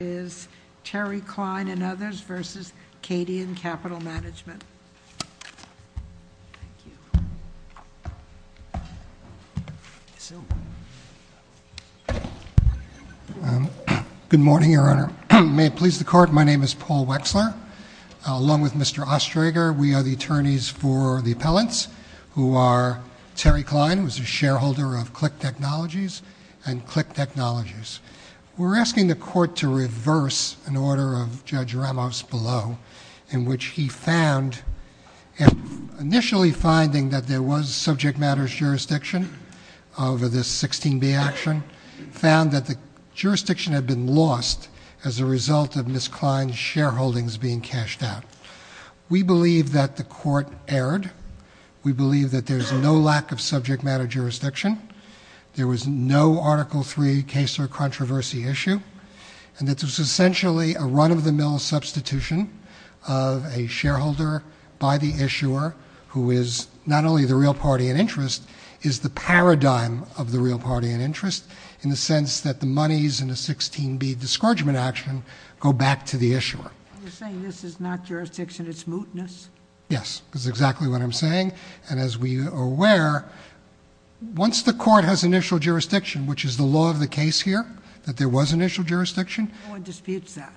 is Terry Klein and others versus Cadian Capital Management. Good morning, Your Honor. May it please the court, my name is Paul Wexler. Along with Mr. Ostreger, we are the attorneys for the appellants who are Terry Klein, who is a shareholder of Click Technologies and Click Technologies. We're asking the court to reverse an order of Judge Ramos below in which he found, initially finding that there was subject matters jurisdiction over this 16B action, found that the jurisdiction had been lost as a result of Ms. Klein's shareholdings being cashed out. We believe that the court erred. We believe that there's no lack of subject matter jurisdiction. There was no Article III case or controversy issue. And that there's essentially a run-of-the-mill substitution of a shareholder by the issuer, who is not only the real party in interest, is the paradigm of the real party in interest, in the sense that the monies in the 16B discouragement action go back to the issuer. You're saying this is not jurisdiction, it's mootness? Yes, that's exactly what I'm saying. And as we are aware, once the court has initial jurisdiction, which is the law of the case here, that there was initial jurisdiction- No one disputes that.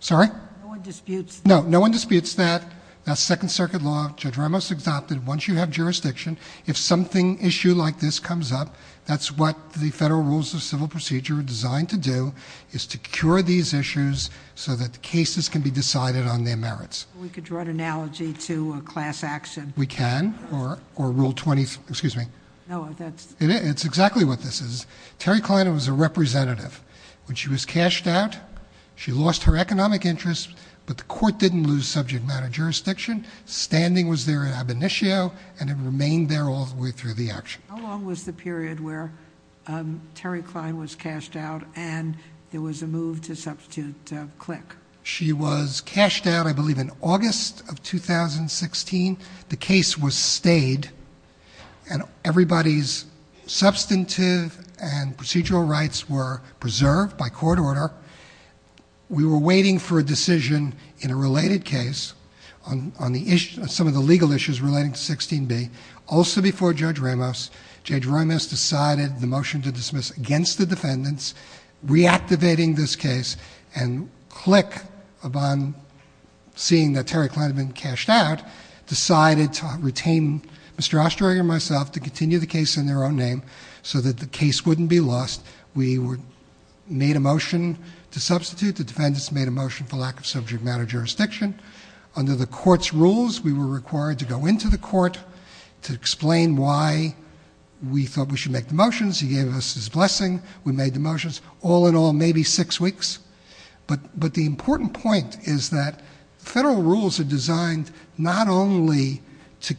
Sorry? No one disputes that. No, no one disputes that. That's Second Circuit law. Judge Ramos exopted it. Once you have jurisdiction, if something, issue like this comes up, that's what the Federal Rules of Civil Procedure are designed to do, is to cure these issues so that the cases can be decided on their merits. We could draw an analogy to a class action. We can, or Rule 20, excuse me. No, that's- It's exactly what this is. Terry Klein was a representative. When she was cashed out, she lost her economic interest, but the court didn't lose subject matter jurisdiction. Standing was there in ab initio, and it remained there all the way through the action. How long was the period where Terry Klein was cashed out, and there was a move to substitute Klick? She was cashed out, I believe, in August of 2016. The case was stayed, and everybody's substantive and procedural rights were preserved by court order. We were waiting for a decision in a related case on some of the legal issues relating to 16b. Also before Judge Ramos, Judge Ramos decided the motion to dismiss against the defendants, reactivating this case, and Klick, upon seeing that Terry Klein had been cashed out, decided to retain Mr. Ostreger and myself to continue the case in their own name so that the case wouldn't be lost. We made a motion to substitute. The defendants made a motion for lack of subject matter jurisdiction. Under the court's rules, we were required to go into the court to explain why we thought we should make the motions. He gave us his blessing. We made the motions. All in all, maybe six weeks. But the important point is that federal rules are designed not only to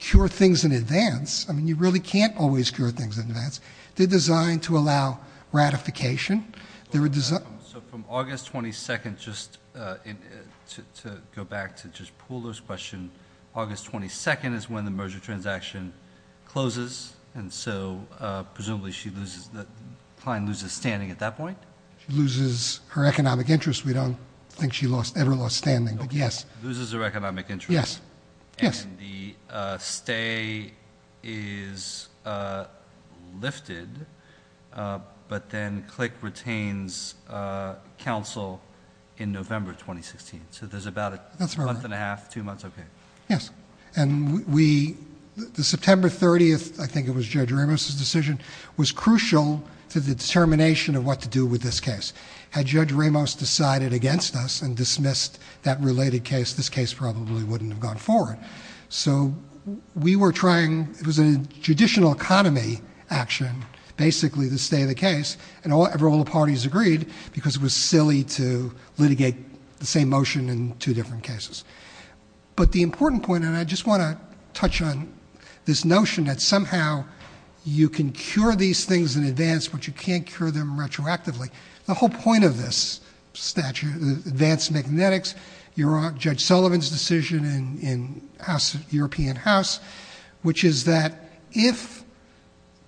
cure things in advance. I mean, you really can't always cure things in advance. They're designed to allow ratification. So from August 22nd, just to go back to just Pooler's question, August 22nd is when the merger transaction closes, and so presumably Klein loses standing at that point? She loses her economic interest. We don't think she ever lost standing, but yes. Loses her economic interest. Yes. And the stay is lifted, but then Klick retains counsel in November 2016. So there's about a month and a half, two months, okay. Yes. It was crucial to the determination of what to do with this case. Had Judge Ramos decided against us and dismissed that related case, this case probably wouldn't have gone forward. So we were trying, it was a judicial economy action basically to stay the case, and all the parties agreed because it was silly to litigate the same motion in two different cases. But the important point, and I just want to touch on this notion that somehow you can cure these things in advance, but you can't cure them retroactively. The whole point of this statute, advanced magnetics, Judge Sullivan's decision in House, European House, which is that if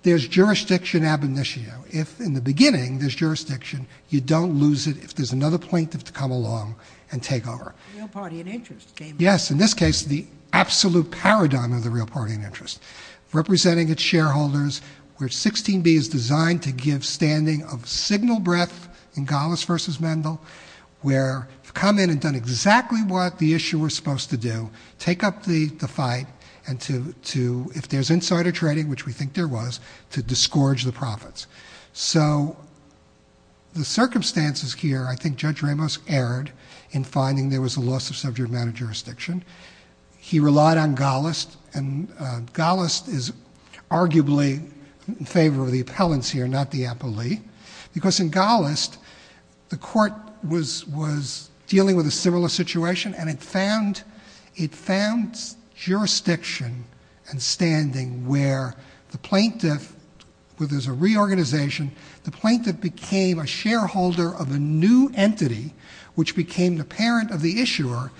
there's jurisdiction ab initio, if in the beginning there's jurisdiction, you don't lose it if there's another plaintiff to come along and take over. The real party in interest, James. Yes. In this case, the absolute paradigm of the real party in interest. Representing its shareholders, where 16B is designed to give standing of signal breath in Gallus versus Mendel, where come in and done exactly what the issuer was supposed to do, take up the fight and to, if there's insider trading, which we think there was, to disgorge the profits. So the circumstances here, I think Judge Ramos erred in finding there was a loss of subject matter jurisdiction. He relied on Gallus, and Gallus is arguably in favor of the appellants here, not the appellee. Because in Gallus, the court was dealing with a similar situation, and it found jurisdiction and standing where the plaintiff, where there's a reorganization, the plaintiff became a shareholder of a new entity, which became the parent of the issuer.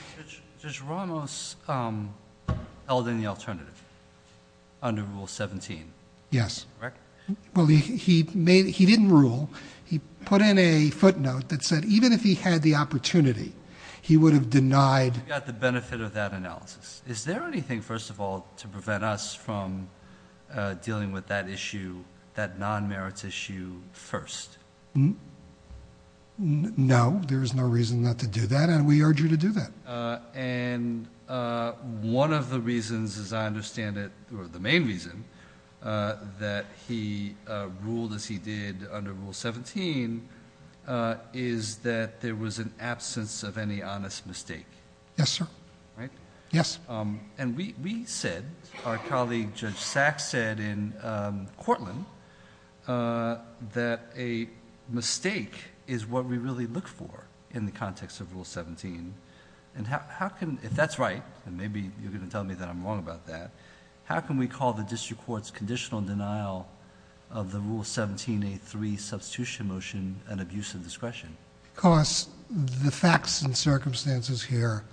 Judge Ramos held in the alternative under Rule 17. Yes. Correct? Well, he didn't rule. He put in a footnote that said even if he had the opportunity, he would have denied. We got the benefit of that analysis. Is there anything, first of all, to prevent us from dealing with that issue, that non-merits issue, first? No, there is no reason not to do that, and we urge you to do that. And one of the reasons, as I understand it, or the main reason that he ruled as he did under Rule 17, is that there was an absence of any honest mistake. Yes, sir. Right? Yes. And we said, our colleague Judge Sachs said in Cortland, that a mistake is what we really look for in the context of Rule 17. And how can, if that's right, and maybe you're going to tell me that I'm wrong about that, how can we call the district court's conditional denial of the Rule 17A3 substitution motion an abuse of discretion? Because the facts and circumstances here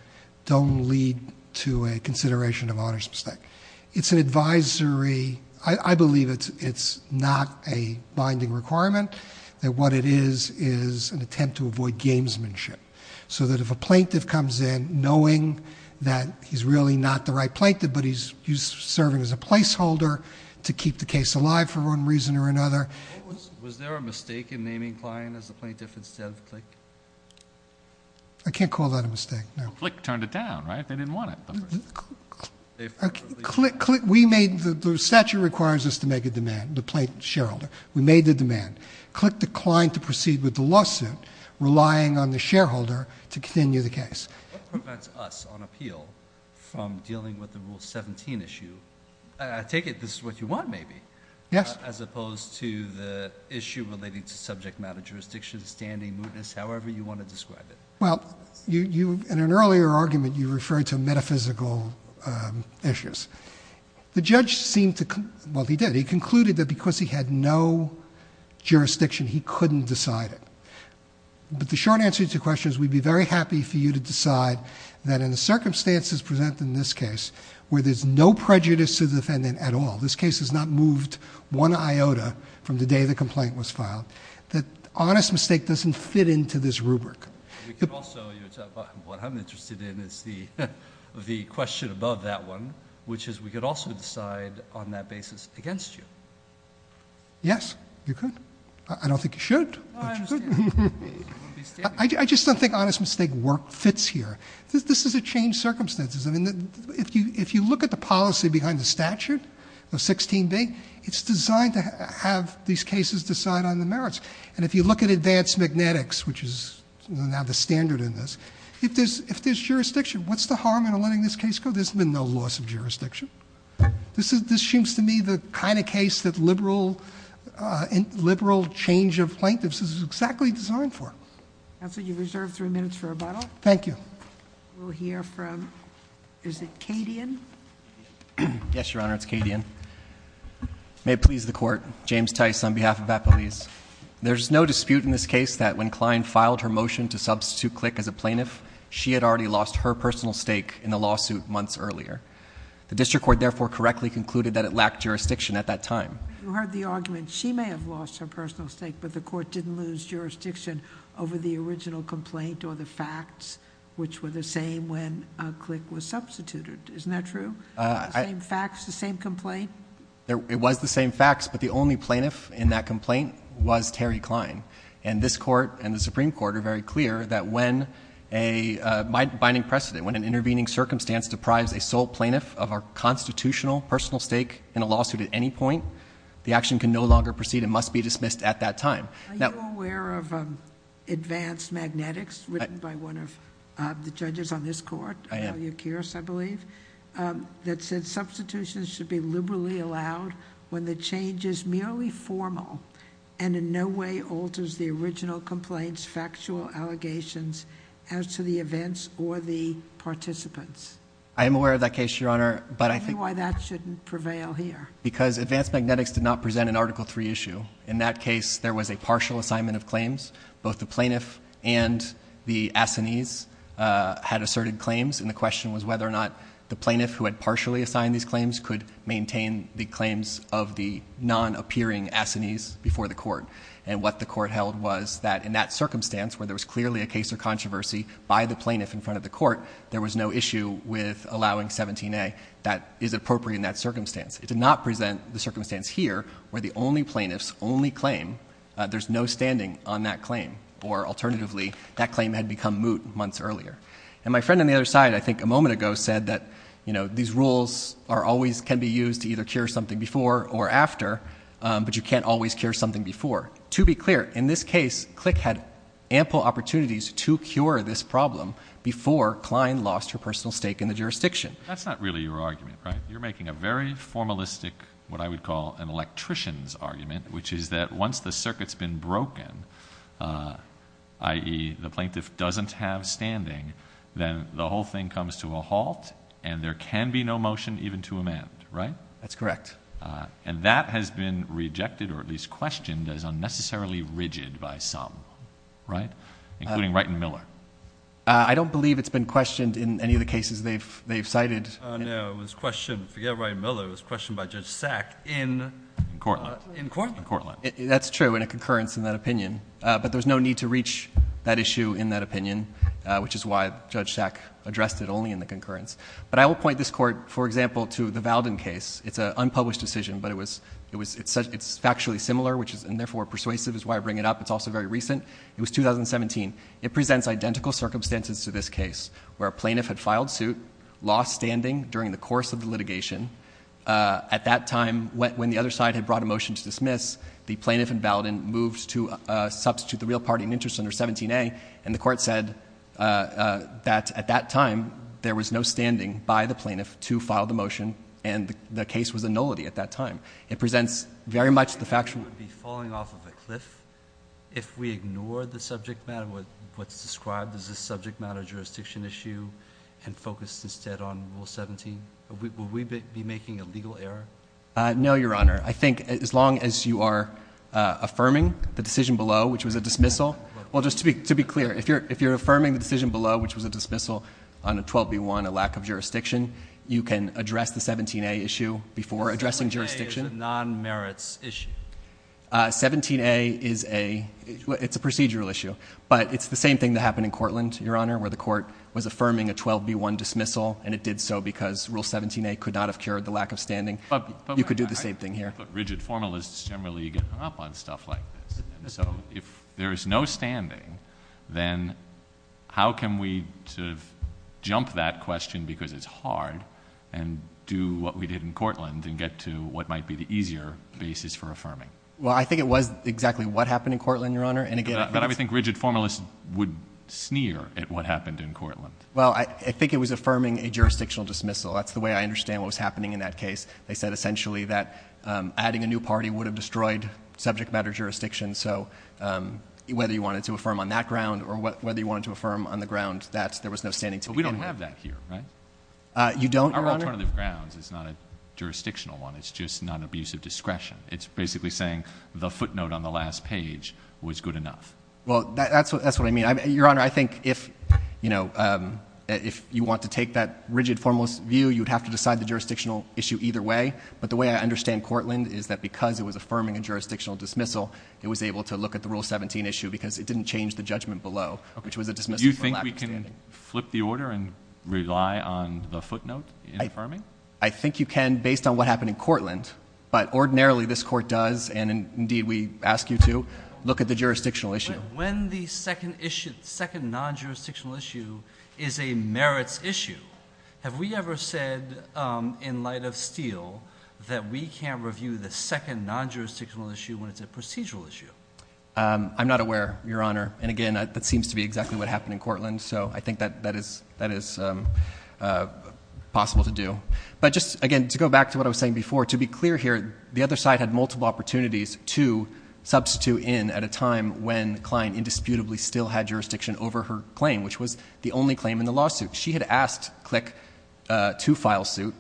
don't lead to a consideration of honest mistake. It's an advisory, I believe it's not a binding requirement, that what it is, is an attempt to avoid gamesmanship. So that if a plaintiff comes in knowing that he's really not the right plaintiff, but he's serving as a placeholder to keep the case alive for one reason or another. Was there a mistake in naming Klein as the plaintiff instead of Flick? I can't call that a mistake, no. Flick turned it down, right? They didn't want it. We made, the statute requires us to make a demand, the plaintiff shareholder. We made the demand. Click declined to proceed with the lawsuit, relying on the shareholder to continue the case. What prevents us on appeal from dealing with the Rule 17 issue? I take it this is what you want, maybe. Yes. As opposed to the issue relating to subject matter, jurisdiction, standing, mootness, however you want to describe it. Well, in an earlier argument, you referred to metaphysical issues. The judge seemed to, well, he did. He concluded that because he had no jurisdiction, he couldn't decide it. But the short answer to your question is we'd be very happy for you to decide that in the circumstances presented in this case where there's no prejudice to the defendant at all, this case has not moved one iota from the day the complaint was filed, that honest mistake doesn't fit into this rubric. We could also, what I'm interested in is the question above that one, which is we could also decide on that basis against you. Yes, you could. I don't think you should, but you could. I just don't think honest mistake work fits here. This is a changed circumstances. I mean, if you look at the policy behind the statute, the 16B, it's designed to have these cases decide on the merits. And if you look at advanced magnetics, which is now the standard in this, if there's jurisdiction, what's the harm in letting this case go? There's been no loss of jurisdiction. This seems to me the kind of case that liberal change of plaintiffs is exactly designed for. Counsel, you're reserved three minutes for rebuttal. Thank you. We'll hear from, is it Cadian? Yes, Your Honor, it's Cadian. May it please the Court. James Tice on behalf of Appelese. There's no dispute in this case that when Klein filed her motion to substitute Click as a plaintiff, she had already lost her personal stake in the lawsuit months earlier. The district court therefore correctly concluded that it lacked jurisdiction at that time. You heard the argument, she may have lost her personal stake, but the court didn't lose jurisdiction over the original complaint or the facts, which were the same when Click was substituted. Isn't that true? The same facts, the same complaint? It was the same facts, but the only plaintiff in that complaint was Terry Klein, and this court and the Supreme Court are very clear that when a binding precedent, when an intervening circumstance deprives a sole plaintiff of her constitutional personal stake in a lawsuit at any point, the action can no longer proceed and must be dismissed at that time. Are you aware of advanced magnetics written by one of the judges on this court? I am. I believe that said substitutions should be liberally allowed when the change is merely formal and in no way alters the original complaints, factual allegations, as to the events or the participants. I am aware of that case, Your Honor. Tell me why that shouldn't prevail here. Because advanced magnetics did not present an Article III issue. In that case, there was a partial assignment of claims. Both the plaintiff and the assignees had asserted claims, and the question was whether or not the plaintiff who had partially assigned these claims could maintain the claims of the non-appearing assignees before the court. And what the court held was that in that circumstance, where there was clearly a case or controversy by the plaintiff in front of the court, there was no issue with allowing 17A. That is appropriate in that circumstance. It did not present the circumstance here where the only plaintiff's only claim, there's no standing on that claim. Or alternatively, that claim had become moot months earlier. And my friend on the other side, I think a moment ago, said that these rules can be used to either cure something before or after, but you can't always cure something before. To be clear, in this case, Click had ample opportunities to cure this problem before Klein lost her personal stake in the jurisdiction. That's not really your argument, right? You're making a very formalistic, what I would call an electrician's argument, which is that once the circuit's been broken, i.e., the plaintiff doesn't have standing, then the whole thing comes to a halt, and there can be no motion even to amend, right? That's correct. And that has been rejected, or at least questioned, as unnecessarily rigid by some, right? Including Wright and Miller. I don't believe it's been questioned in any of the cases they've cited. No, it was questioned, forget Wright and Miller, it was questioned by Judge Sack in Courtland. That's true, in a concurrence in that opinion. But there's no need to reach that issue in that opinion, which is why Judge Sack addressed it only in the concurrence. But I will point this court, for example, to the Valden case. It's an unpublished decision, but it's factually similar, and therefore persuasive is why I bring it up. It's also very recent. It was 2017. It presents identical circumstances to this case, where a plaintiff had filed suit, lost standing during the course of the litigation. At that time, when the other side had brought a motion to dismiss, the plaintiff in Valden moved to substitute the real party in interest under 17A, and the court said that at that time, there was no standing by the plaintiff to file the motion, and the case was a nullity at that time. It presents very much the factual. Would it be falling off of a cliff if we ignore the subject matter, what's described as a subject matter jurisdiction issue, and focus instead on Rule 17? Would we be making a legal error? No, Your Honor. I think as long as you are affirming the decision below, which was a dismissal. Well, just to be clear, if you're affirming the decision below, which was a dismissal on a 12B1, a lack of jurisdiction, you can address the 17A issue before addressing jurisdiction. 17A is a non-merits issue. 17A is a procedural issue, but it's the same thing that happened in Cortland, Your Honor, where the court was affirming a 12B1 dismissal, and it did so because Rule 17A could not have cured the lack of standing. You could do the same thing here. But rigid formalists generally get hung up on stuff like this. So if there is no standing, then how can we sort of jump that question because it's hard and do what we did in Cortland and get to what might be the easier basis for affirming? Well, I think it was exactly what happened in Cortland, Your Honor. But I would think rigid formalists would sneer at what happened in Cortland. Well, I think it was affirming a jurisdictional dismissal. That's the way I understand what was happening in that case. They said essentially that adding a new party would have destroyed subject matter jurisdiction. So whether you wanted to affirm on that ground or whether you wanted to affirm on the ground that there was no standing to begin with. But we don't have that here, right? You don't, Your Honor? Our alternative grounds is not a jurisdictional one. It's just non-abusive discretion. It's basically saying the footnote on the last page was good enough. Well, that's what I mean. Your Honor, I think if you want to take that rigid formalist view, you would have to decide the jurisdictional issue either way. But the way I understand Cortland is that because it was affirming a jurisdictional dismissal, it was able to look at the Rule 17 issue because it didn't change the judgment below, which was a dismissal from lack of standing. Do you think we can flip the order and rely on the footnote in affirming? I think you can based on what happened in Cortland. But ordinarily this court does, and indeed we ask you to, look at the jurisdictional issue. When the second non-jurisdictional issue is a merits issue, have we ever said in light of Steele that we can't review the second non-jurisdictional issue when it's a procedural issue? I'm not aware, Your Honor. And again, that seems to be exactly what happened in Cortland. So I think that is possible to do. But just, again, to go back to what I was saying before, to be clear here, the other side had multiple opportunities to substitute in at a time when Klein indisputably still had jurisdiction over her claim, which was the only claim in the lawsuit. She had asked Click to file suit.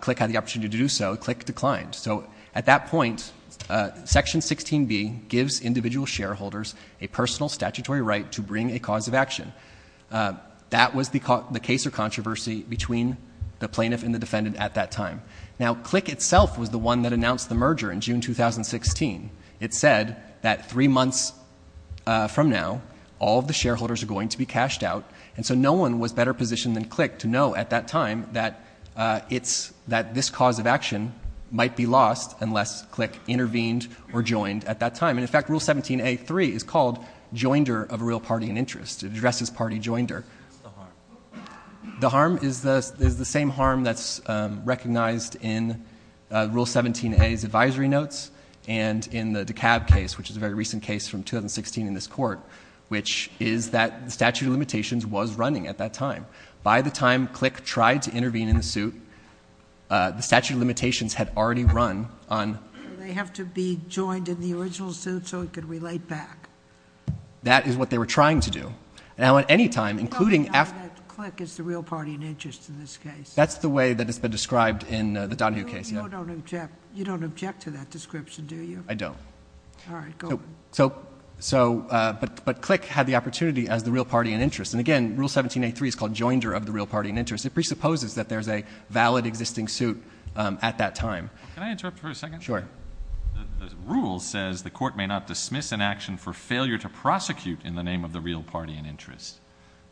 Click had the opportunity to do so. Click declined. So at that point, Section 16b gives individual shareholders a personal statutory right to bring a cause of action. That was the case or controversy between the plaintiff and the defendant at that time. Now, Click itself was the one that announced the merger in June 2016. It said that three months from now, all of the shareholders are going to be cashed out. And so no one was better positioned than Click to know at that time that this cause of action might be lost unless Click intervened or joined at that time. And, in fact, Rule 17a.3 is called joinder of a real party in interest. It addresses party joinder. The harm is the same harm that's recognized in Rule 17a's advisory notes and in the DeKalb case, which is a very recent case from 2016 in this court, which is that the statute of limitations was running at that time. By the time Click tried to intervene in the suit, the statute of limitations had already run on... They have to be joined in the original suit so it could relate back. That is what they were trying to do. Now, at any time, including... You don't deny that Click is the real party in interest in this case. That's the way that it's been described in the Donohue case. You don't object to that description, do you? I don't. All right, go on. But Click had the opportunity as the real party in interest. And, again, Rule 17a.3 is called joinder of the real party in interest. It presupposes that there's a valid existing suit at that time. Can I interrupt for a second? Sure. The rule says the court may not dismiss an action for failure to prosecute in the name of the real party in interest.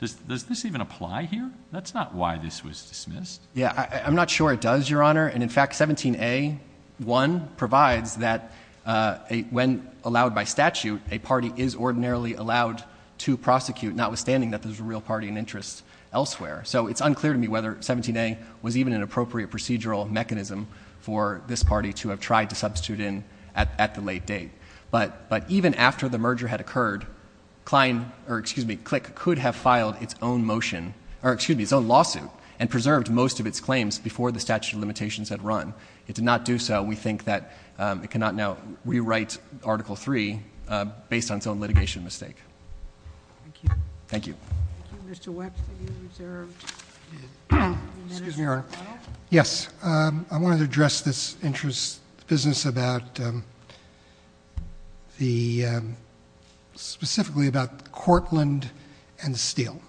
Does this even apply here? That's not why this was dismissed. Yeah, I'm not sure it does, Your Honour. And, in fact, 17a.1 provides that when allowed by statute, a party is ordinarily allowed to prosecute, notwithstanding that there's a real party in interest elsewhere. So it's unclear to me whether 17a. was even an appropriate procedural mechanism for this party to have tried to substitute in at the late date. But even after the merger had occurred, Click could have filed its own motion, or excuse me, its own lawsuit, and preserved most of its claims before the statute of limitations had run. It did not do so. We think that it cannot now rewrite Article 3 based on its own litigation mistake. Thank you. Thank you. Thank you. Mr. Wexler, you're reserved. Excuse me, Your Honour. Yes. I wanted to address this business specifically about Cortland and Steele.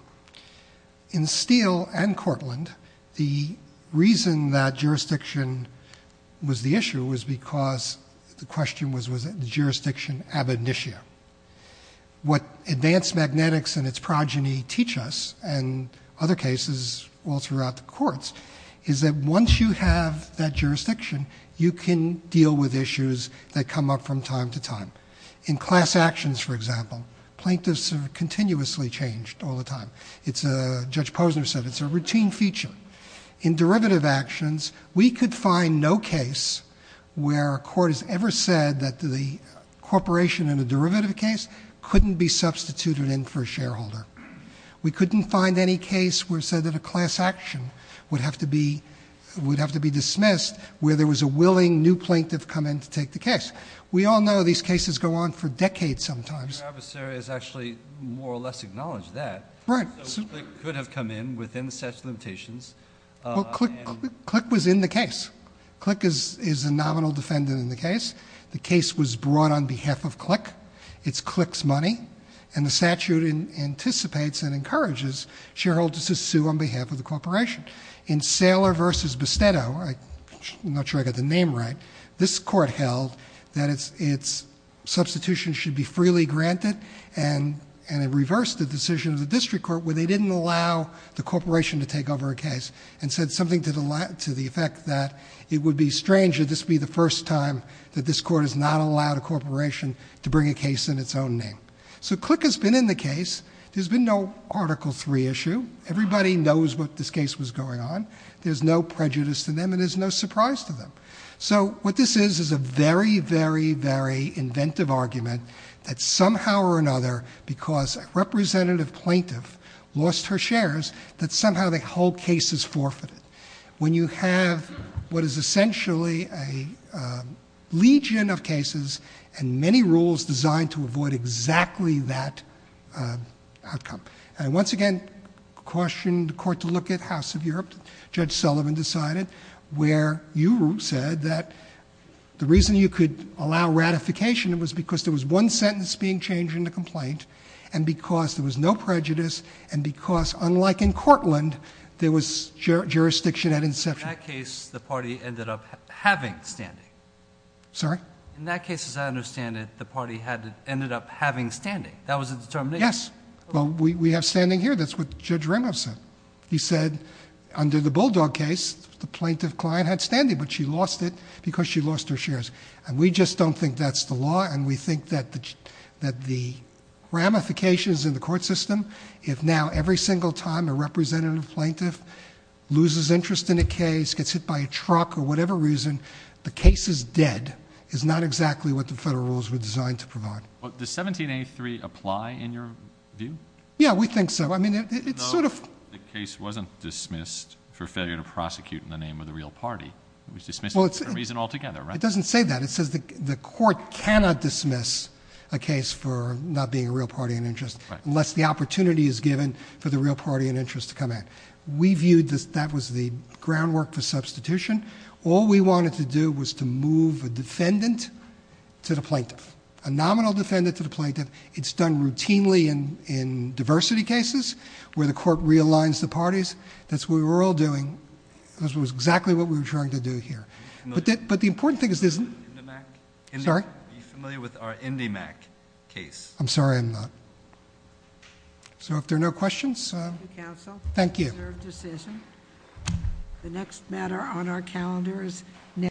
In Steele and Cortland, the reason that jurisdiction was the issue was because the question was, was it jurisdiction ab initio? What advanced magnetics and its progeny teach us, and other cases all throughout the courts, is that once you have that jurisdiction, you can deal with issues that come up from time to time. In class actions, for example, plaintiffs are continuously changed all the time. Judge Posner said it's a routine feature. In derivative actions, we could find no case where a court has ever said that the corporation in a derivative case couldn't be substituted in for a shareholder. We couldn't find any case where it said that a class action would have to be dismissed where there was a willing new plaintiff come in to take the case. We all know these cases go on for decades sometimes. Your adversary has actually more or less acknowledged that. Right. So CLIC could have come in within the statute of limitations. Well, CLIC was in the case. CLIC is a nominal defendant in the case. The case was brought on behalf of CLIC. It's CLIC's money. And the statute anticipates and encourages shareholders to sue on behalf of the corporation. In Saylor v. Bastetto, I'm not sure I got the name right, this court held that its substitution should be freely granted and it reversed the decision of the district court where they didn't allow the corporation to take over a case and said something to the effect that it would be strange if this would be the first time that this court has not allowed a corporation to bring a case in its own name. So CLIC has been in the case. There's been no Article III issue. Everybody knows what this case was going on. There's no prejudice to them and there's no surprise to them. So what this is is a very, very, very inventive argument that somehow or another because a representative plaintiff lost her shares that somehow the whole case is forfeited. When you have what is essentially a legion of cases and many rules designed to avoid exactly that outcome. And once again, I questioned the court to look at House of Europe. Judge Sullivan decided where you said that the reason you could allow ratification was because there was one sentence being changed in the complaint and because there was no prejudice and because unlike in Cortland, there was jurisdiction at inception. In that case, the party ended up having standing. Sorry? In that case, as I understand it, the party ended up having standing. That was the determination. Yes. Well, we have standing here. That's what Judge Remov said. He said under the Bulldog case, the plaintiff client had standing, but she lost it because she lost her shares. And we just don't think that's the law and we think that the ramifications in the court system, if now every single time a representative plaintiff loses interest in a case, gets hit by a truck or whatever reason, the case is dead is not exactly what the federal rules were designed to provide. Well, does 1783 apply in your view? Yeah, we think so. I mean, it's sort of. The case wasn't dismissed for failure to prosecute in the name of the real party. It was dismissed for a reason altogether, right? It doesn't say that. It says the court cannot dismiss a case for not being a real party in interest unless the opportunity is given for the real party in interest to come in. We viewed that that was the groundwork for substitution. All we wanted to do was to move a defendant to the plaintiff, a nominal defendant to the plaintiff. It's done routinely in diversity cases where the court realigns the parties. That's what we were all doing. That was exactly what we were trying to do here. But the important thing is this. Sorry? Are you familiar with our IndyMac case? I'm sorry, I'm not. So if there are no questions. Thank you, counsel. Thank you. Reserved decision. The next matter on our calendar is.